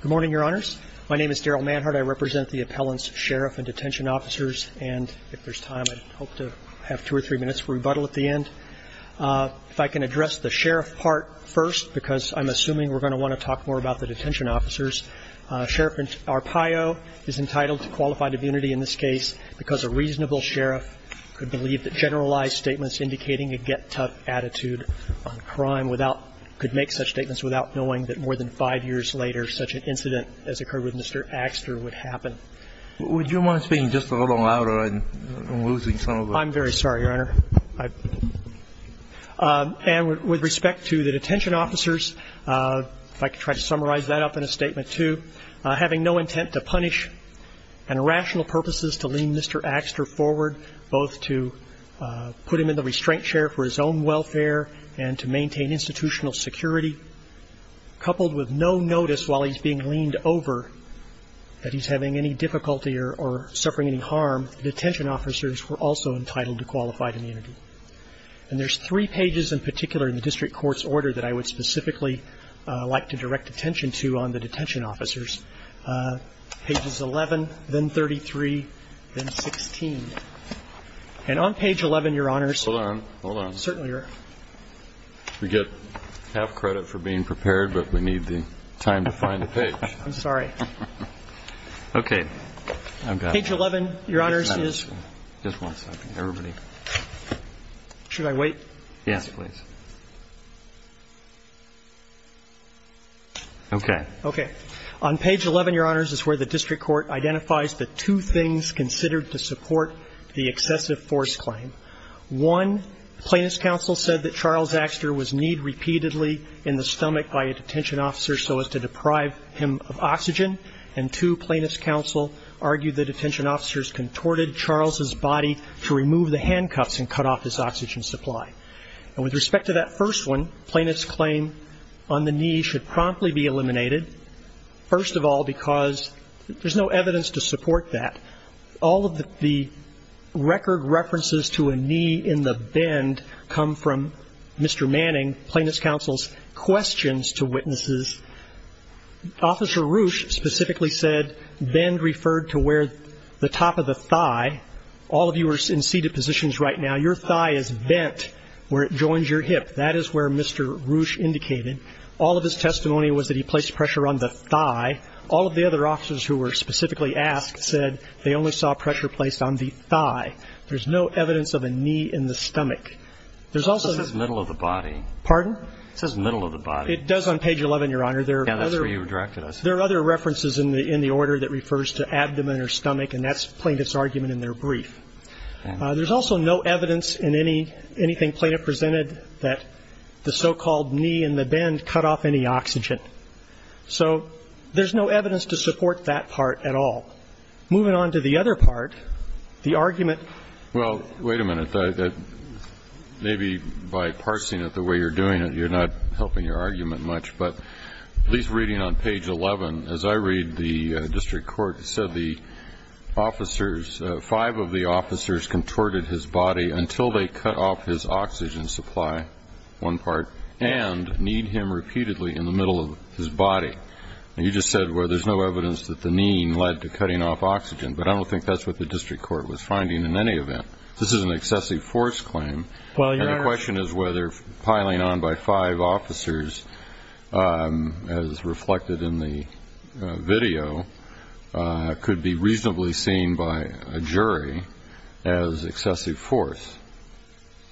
Good morning, Your Honors. My name is Darrell Manhart. I represent the appellants, sheriff and detention officers. And if there's time, I'd hope to have two or three minutes for rebuttal at the end. If I can address the sheriff part first, because I'm assuming we're going to want to talk more about the detention officers. Sheriff Arpaio is entitled to qualified immunity in this case because a reasonable sheriff could believe that generalized statements indicating a get-tough attitude on crime without, could make such statements without knowing that more than five years later such an incident as occurred with Mr. Axter would happen. Would you mind speaking just a little louder? I'm losing some of the... I'm very sorry, Your Honor. And with respect to the detention officers, if I could try to summarize that up in a statement, too. Having no intent to punish and rational purposes to lean Mr. Axter forward, both to put him in the restraint chair for his own welfare and to maintain institutional security, coupled with no notice while he's being leaned over that he's having any difficulty or suffering any harm, the detention officers were also entitled to qualified immunity. And there's three pages in particular in the district court's order that I would specifically like to direct attention to on the detention officers. Pages 11, then 33, then 16. And on page 11, Your Honors... Hold on. Hold on. Certainly, Your Honor. We get half credit for being prepared, but we need the time to find the page. I'm sorry. Okay. I've got it. Page 11, Your Honors, is... Just one second. Everybody... Should I wait? Yes, please. Okay. Okay. On page 11, Your Honors, is where the district court identifies the two things considered to support the excessive force claim. One, plaintiff's counsel said that Charles Axter was kneed repeatedly in the stomach by a detention officer so as to deprive him of oxygen. And two, plaintiff's counsel argued that detention officers contorted Charles' body to remove the handcuffs and cut off his oxygen supply. And with respect to that first one, plaintiff's claim on the knee should promptly be eliminated. First of all, because there's no evidence to support that. All of the record references to a knee in the bend come from Mr. Manning, plaintiff's counsel's questions to witnesses. Officer Roush specifically said bend referred to where the top of the thigh... All of you are in seated positions right now. Your thigh is bent where it joins your hip. That is where Mr. Roush indicated. All of his testimony was that he placed pressure on the thigh. All of the other officers who were specifically asked said they only saw pressure placed on the thigh. There's no evidence of a knee in the stomach. There's also... It says middle of the body. Pardon? It says middle of the body. It does on page 11, Your Honor. Yeah, that's where you directed us. There are other references in the order that refers to abdomen or stomach, and that's plaintiff's argument in their brief. There's also no evidence in anything plaintiff presented that the so-called knee in the bend cut off any oxygen. So there's no evidence to support that part at all. Moving on to the other part, the argument... Well, wait a minute. Maybe by parsing it the way you're doing it, you're not helping your argument much. But at least reading on page 11, as I read, the district court said the officers, five of the officers contorted his body until they cut off his oxygen supply, one part, and kneed him repeatedly in the middle of his body. And you just said, well, there's no evidence that the kneeing led to cutting off oxygen. But I don't think that's what the district court was finding in any event. This is an excessive force claim. And the question is whether piling on by five officers, as reflected in the video, could be reasonably seen by a jury as excessive force.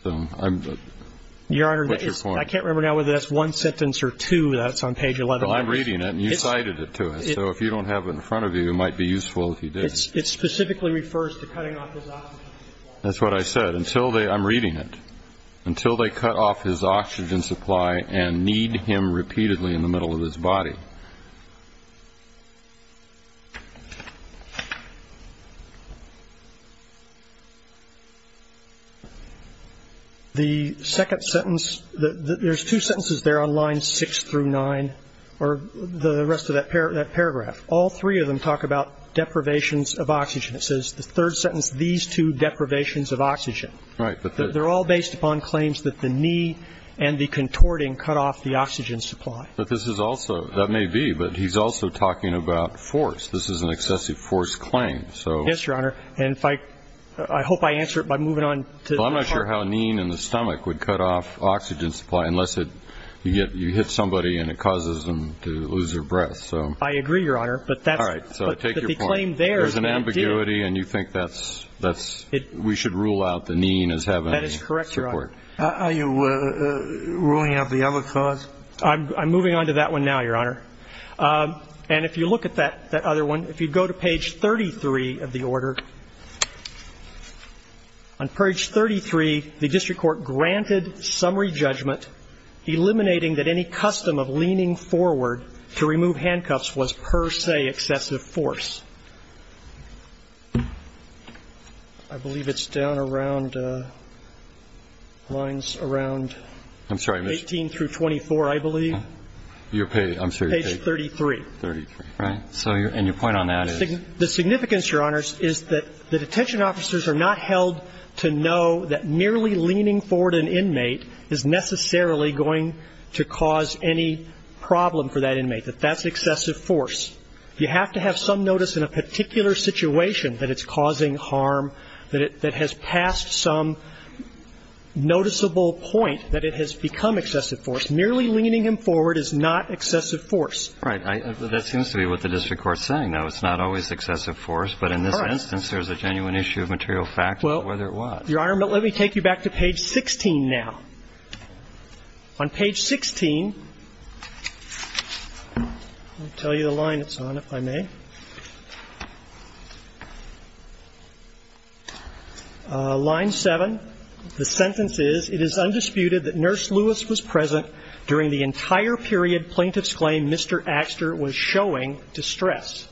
Your Honor, I can't remember now whether that's one sentence or two that's on page 11. Well, I'm reading it, and you cited it to us. So if you don't have it in front of you, it might be useful if you did. It specifically refers to cutting off his oxygen supply. That's what I said. I'm reading it. Until they cut off his oxygen supply and kneed him repeatedly in the middle of his body. The second sentence, there's two sentences there on line six through nine, or the rest of that paragraph. All three of them talk about deprivations of oxygen. It says the third sentence, these two deprivations of oxygen. Right. They're all based upon claims that the knee and the contorting cut off the oxygen supply. But this is also, that may be, but he's also talking about force. This is an excessive force claim. Yes, Your Honor. And if I, I hope I answer it by moving on. Well, I'm not sure how kneeing in the stomach would cut off oxygen supply unless it, you hit somebody and it causes them to lose their breath. I agree, Your Honor, but that's. All right. So take your point. But the claim there. There's an ambiguity, and you think that's, we should rule out the kneeing as having. That is correct, Your Honor. Are you ruling out the other cause? I'm moving on to that one now, Your Honor. And if you look at that other one, if you go to page 33 of the order, on page 33, the district court granted summary judgment eliminating that any custom of leaning forward to remove handcuffs was per se excessive force. I believe it's down around, lines around. I'm sorry, Mr. You're paying. I'm sorry. Page 33. 33. Right. And your point on that is. The significance, Your Honor, is that the detention officers are not held to know that merely leaning forward an inmate is necessarily going to cause any problem for that inmate, that that's excessive force. You have to have some notice in a particular situation that it's causing harm, that it has passed some noticeable point that it has become excessive force. Merely leaning him forward is not excessive force. Right. That seems to be what the district court's saying, though. It's not always excessive force. But in this instance, there's a genuine issue of material fact as to whether it was. Your Honor, let me take you back to page 16 now. On page 16, I'll tell you the line it's on, if I may. Line 7. The sentence is, It is undisputed that Nurse Lewis was present during the entire period plaintiff's claim Mr. Axter was showing distress.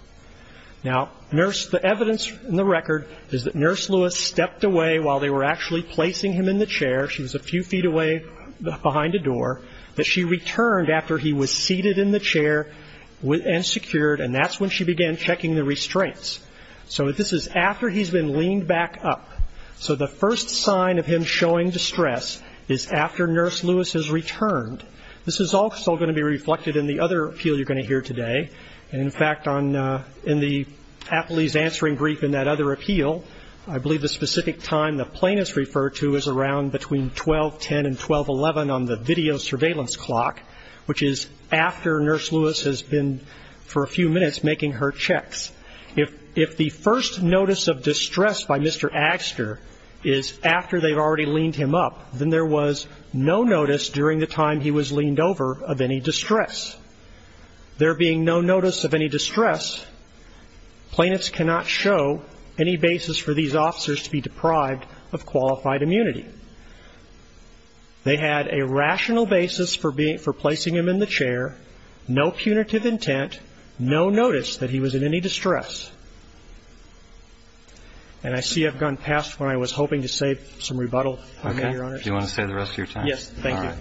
Now, the evidence in the record is that Nurse Lewis stepped away while they were actually placing him in the chair. She was a few feet away behind a door. But she returned after he was seated in the chair and secured. And that's when she began checking the restraints. So this is after he's been leaned back up. So the first sign of him showing distress is after Nurse Lewis has returned. This is also going to be reflected in the other appeal you're going to hear today. And, in fact, in the athlete's answering brief in that other appeal, I believe the specific time the plaintiff's referred to is around between 1210 and 1211 on the video surveillance clock, which is after Nurse Lewis has been for a few minutes making her checks. If the first notice of distress by Mr. Axter is after they've already leaned him up, then there was no notice during the time he was leaned over of any distress. There being no notice of any distress, plaintiffs cannot show any basis for these officers to be deprived of qualified immunity. They had a rational basis for placing him in the chair, no punitive intent, no notice that he was in any distress. And I see I've gone past when I was hoping to say some rebuttal on that, Your Honor. Okay. Do you want to say the rest of your time? Yes. Thank you. All right.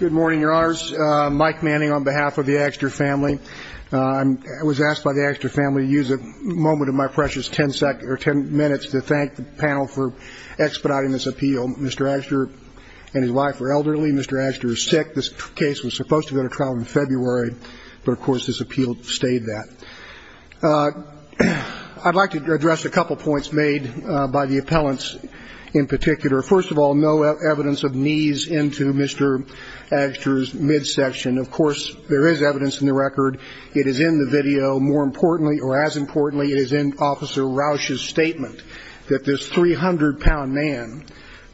Good morning, Your Honors. Mike Manning on behalf of the Axter family. I was asked by the Axter family to use a moment of my precious ten minutes to thank the panel for expediting this appeal. Mr. Axter and his wife are elderly. Mr. Axter is sick. This case was supposed to go to trial in February, but, of course, this appeal stayed that. I'd like to address a couple points made by the appellants in particular. First of all, no evidence of knees into Mr. Axter's midsection. Of course, there is evidence in the record. It is in the video. More importantly, or as importantly, it is in Officer Rausch's statement that this 300-pound man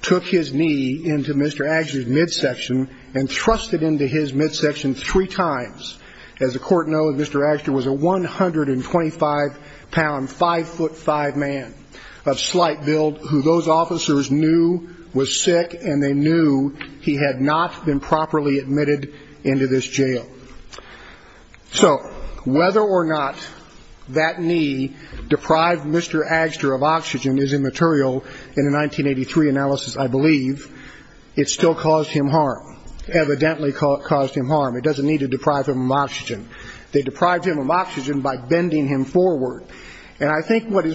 took his knee into Mr. Axter's midsection and thrust it into his midsection three times. As the Court knows, Mr. Axter was a 125-pound, 5'5 man of slight build who those officers knew was sick, and they knew he had not been properly admitted into this jail. So whether or not that knee deprived Mr. Axter of oxygen is immaterial in the 1983 analysis, I believe. It still caused him harm, evidently caused him harm. It doesn't need to deprive him of oxygen. They deprived him of oxygen by bending him forward. And I think what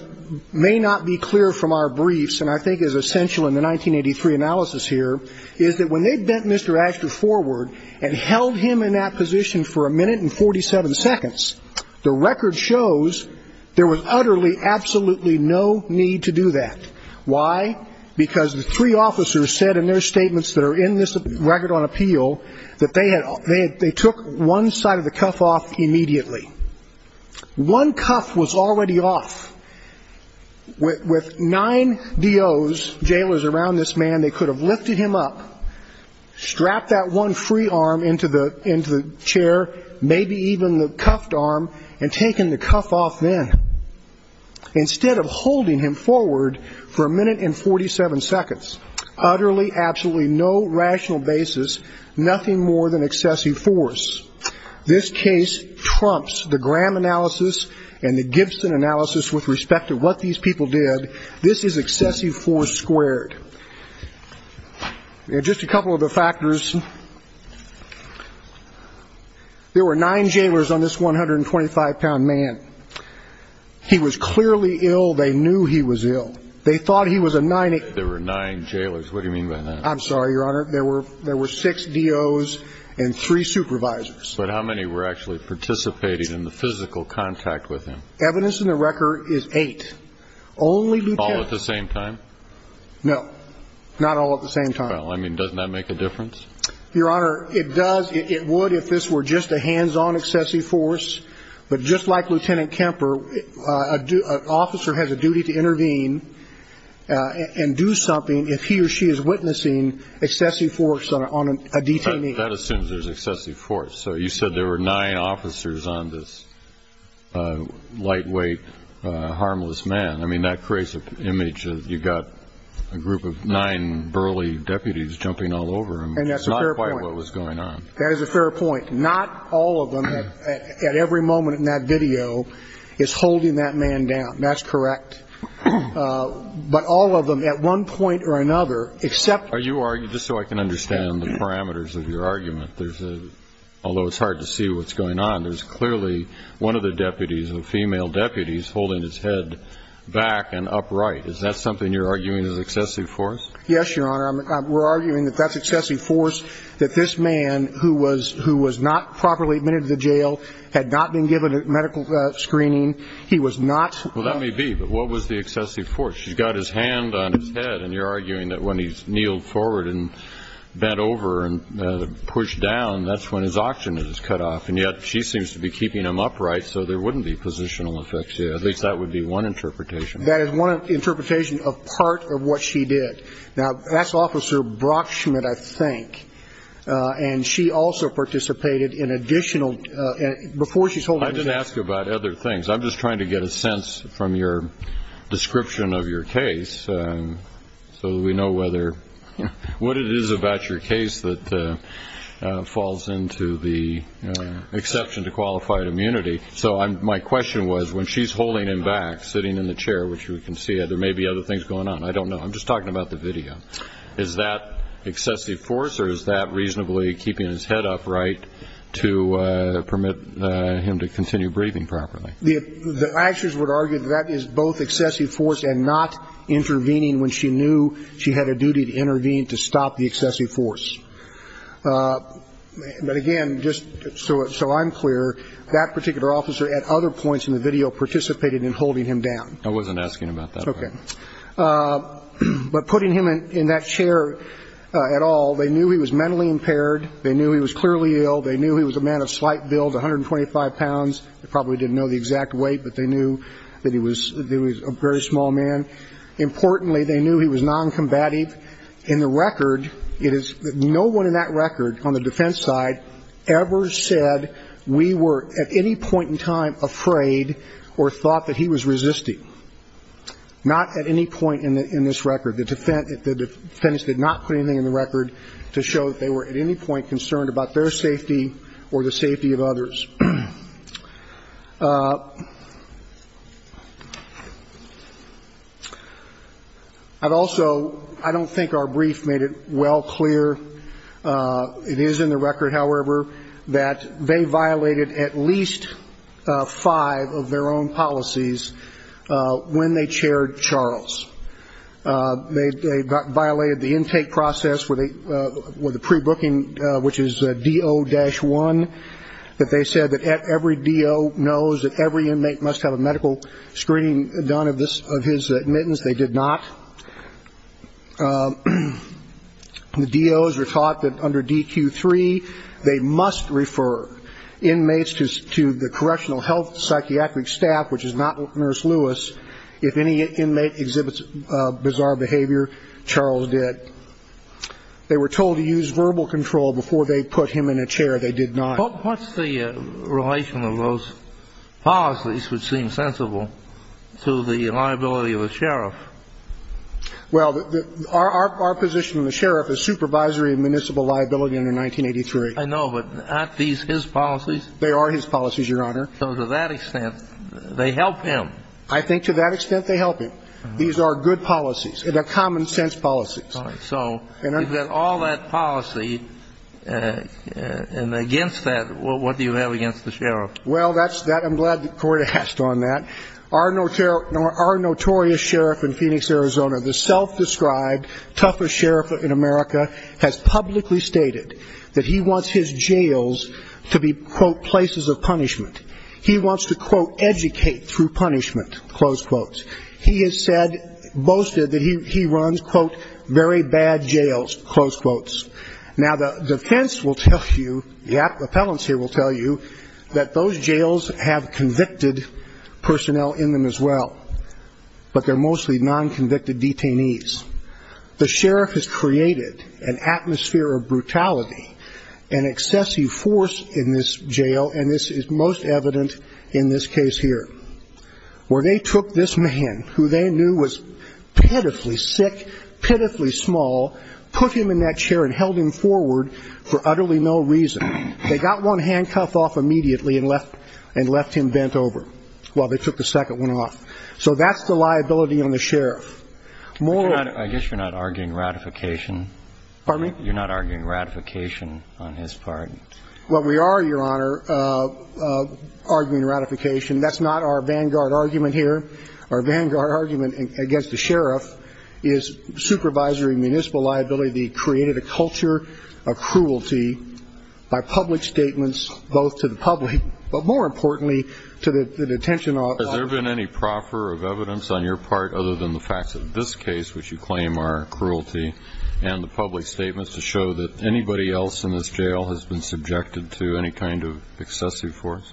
may not be clear from our briefs, and I think is essential in the 1983 analysis here, is that when they bent Mr. Axter forward and held him in that position for a minute and 47 seconds, the record shows there was utterly, absolutely no need to do that. Why? Because the three officers said in their statements that are in this record on appeal that they took one side of the cuff off immediately. One cuff was already off. With nine DOs, jailers around this man, they could have lifted him up, strapped that one free arm into the chair, maybe even the cuffed arm, and taken the cuff off then. Instead of holding him forward for a minute and 47 seconds, utterly, absolutely no rational basis, nothing more than excessive force. This case trumps the Graham analysis and the Gibson analysis with respect to what these people did. This is excessive force squared. Just a couple of the factors. There were nine jailers on this 125-pound man. He was clearly ill. They knew he was ill. They thought he was a 90. There were nine jailers. What do you mean by that? I'm sorry, Your Honor. There were six DOs and three supervisors. But how many were actually participating in the physical contact with him? Evidence in the record is eight. All at the same time? No. Not all at the same time. Well, I mean, doesn't that make a difference? Your Honor, it does. It would if this were just a hands-on excessive force. But just like Lieutenant Kemper, an officer has a duty to intervene and do something if he or she is witnessing excessive force on a detainee. That assumes there's excessive force. So you said there were nine officers on this lightweight, harmless man. I mean, that creates an image that you've got a group of nine burly deputies jumping all over him. And that's a fair point. It's not quite what was going on. That is a fair point. Not all of them, at every moment in that video, is holding that man down. That's correct. But all of them, at one point or another, except one. Are you arguing, just so I can understand the parameters of your argument, although it's hard to see what's going on, there's clearly one of the deputies, a female deputy, is holding his head back and upright. Is that something you're arguing is excessive force? Yes, Your Honor. We're arguing that that's excessive force, that this man, who was not properly admitted to the jail, had not been given medical screening. He was not. Well, that may be. But what was the excessive force? She's got his hand on his head, and you're arguing that when he's kneeled forward and bent over and pushed down, that's when his oxygen is cut off. And yet she seems to be keeping him upright, so there wouldn't be positional effects here. At least that would be one interpretation. That is one interpretation of part of what she did. Now, that's Officer Brockschmidt, I think, and she also participated in additional – before she's holding his head – I didn't ask you about other things. I'm just trying to get a sense from your description of your case, so that we know whether – what it is about your case that falls into the exception to qualified immunity. So my question was, when she's holding him back, sitting in the chair, which you can see, there may be other things going on. I don't know. I'm just talking about the video. Is that excessive force, or is that reasonably keeping his head upright to permit him to continue breathing properly? The actions would argue that that is both excessive force and not intervening when she knew she had a duty to intervene to stop the excessive force. But again, just so I'm clear, that particular officer at other points in the video participated in holding him down. I wasn't asking about that. Okay. But putting him in that chair at all, they knew he was mentally impaired. They knew he was clearly ill. They knew he was a man of slight build, 125 pounds. They probably didn't know the exact weight, but they knew that he was a very small man. Importantly, they knew he was noncombative. In the record, it is – no one in that record on the defense side ever said we were at any point in time afraid or thought that he was resisting, not at any point in this record. The defense did not put anything in the record to show that they were at any point concerned about their safety or the safety of others. Also, I don't think our brief made it well clear. It is in the record, however, that they violated at least five of their own policies when they chaired Charles. They violated the intake process with the pre-booking, which is DO-1, that they said that every DO knows that every inmate must have a medical screening done of his admittance. They did not. The DOs were taught that under DQ-3, they must refer inmates to the correctional health psychiatric staff, which is not Nurse Lewis. If any inmate exhibits bizarre behavior, Charles did. They were told to use verbal control before they put him in a chair. They did not. But what's the relation of those policies, which seem sensible, to the liability of a sheriff? Well, our position of the sheriff is supervisory and municipal liability under 1983. I know, but aren't these his policies? They are his policies, Your Honor. So to that extent, they help him. I think to that extent, they help him. These are good policies. They're common-sense policies. All right. So you've got all that policy, and against that, what do you have against the sheriff? Well, that's that. I'm glad that Corey asked on that. Our notorious sheriff in Phoenix, Arizona, the self-described toughest sheriff in America, has publicly stated that he wants his jails to be, quote, places of punishment. He wants to, quote, educate through punishment, close quotes. He has said, boasted that he runs, quote, very bad jails, close quotes. Now, the defense will tell you, the appellants here will tell you, that those jails have convicted personnel in them as well, but they're mostly non-convicted detainees. The sheriff has created an atmosphere of brutality and excessive force in this jail, and this is most evident in this case here, where they took this man, who they knew was pitifully sick, pitifully small, put him in that chair and held him forward for utterly no reason. They got one handcuff off immediately and left him bent over while they took the second one off. So that's the liability on the sheriff. I guess you're not arguing ratification. Pardon me? You're not arguing ratification on his part. Well, we are, Your Honor, arguing ratification. That's not our vanguard argument here. Our vanguard argument against the sheriff is supervisory municipal liability created a culture of cruelty by public statements both to the public, but more importantly to the detention officers. Has there been any proffer of evidence on your part other than the facts of this case, which you claim are cruelty, and the public statements to show that anybody else in this jail has been subjected to any kind of excessive force?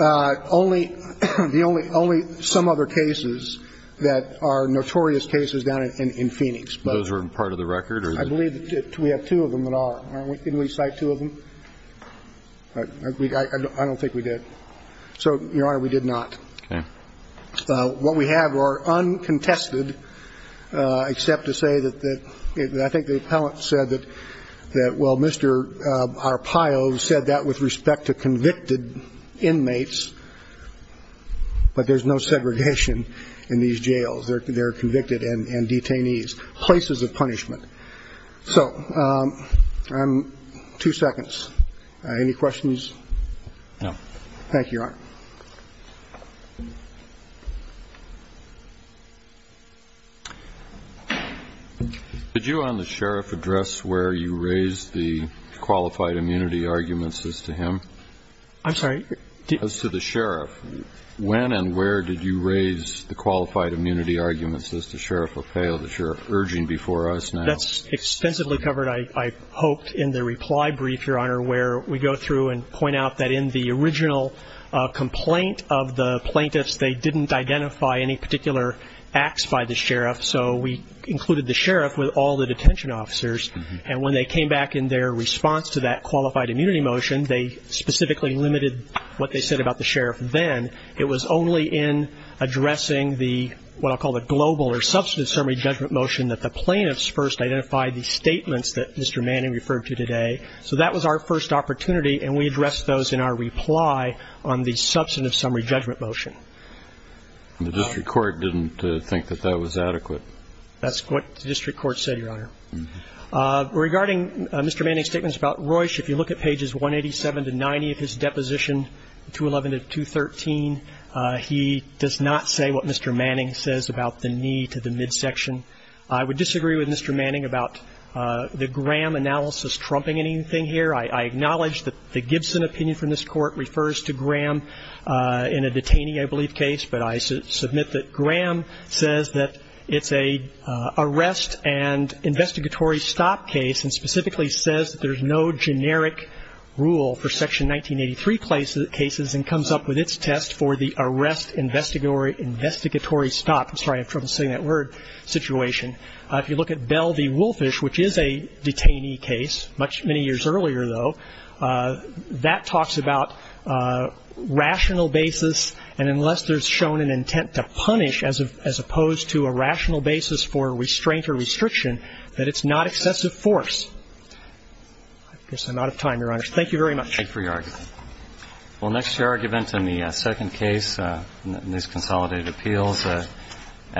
Only some other cases that are notorious cases down in Phoenix. Those are part of the record? I believe we have two of them that are. Didn't we cite two of them? I don't think we did. So, Your Honor, we did not. Okay. What we have are uncontested, except to say that I think the appellant said that, well, Mr. Arpaio said that with respect to convicted inmates, but there's no segregation in these jails. They're convicted and detainees. Places of punishment. So, two seconds. Any questions? No. Thank you, Your Honor. Did you on the sheriff address where you raised the qualified immunity arguments as to him? I'm sorry? As to the sheriff. When and where did you raise the qualified immunity arguments as to Sheriff Arpaio that you're urging before us now? That's extensively covered, I hoped, in the reply brief, Your Honor, where we go through and point out that in the original complaint of the plaintiffs, they didn't identify any particular acts by the sheriff. So we included the sheriff with all the detention officers. And when they came back in their response to that qualified immunity motion, they specifically limited what they said about the sheriff then. It was only in addressing the what I'll call the global or substantive summary judgment motion that the plaintiffs first identified the statements that Mr. Manning referred to today. So that was our first opportunity, and we addressed those in our reply on the substantive summary judgment motion. The district court didn't think that that was adequate. That's what the district court said, Your Honor. Regarding Mr. Manning's statements about Royce, if you look at pages 187 to 90 of his deposition, 211 to 213, he does not say what Mr. Manning says about the need to the midsection. I would disagree with Mr. Manning about the Graham analysis trumping anything here. I acknowledge that the Gibson opinion from this Court refers to Graham in a detainee, I believe, case, but I submit that Graham says that it's an arrest and investigatory stop case and specifically says that there's no generic rule for Section 1983 cases and comes up with its test for the arrest investigatory stop. I'm sorry, I have trouble saying that word, situation. If you look at Bell v. Wolfish, which is a detainee case, many years earlier, though, that talks about rational basis, and unless there's shown an intent to punish, as opposed to a rational basis for restraint or restriction, that it's not excessive force. I guess I'm out of time, Your Honors. Thank you very much. Thank you for your argument. Well, next to your argument in the second case in these consolidated appeals, Agster v. Lewis.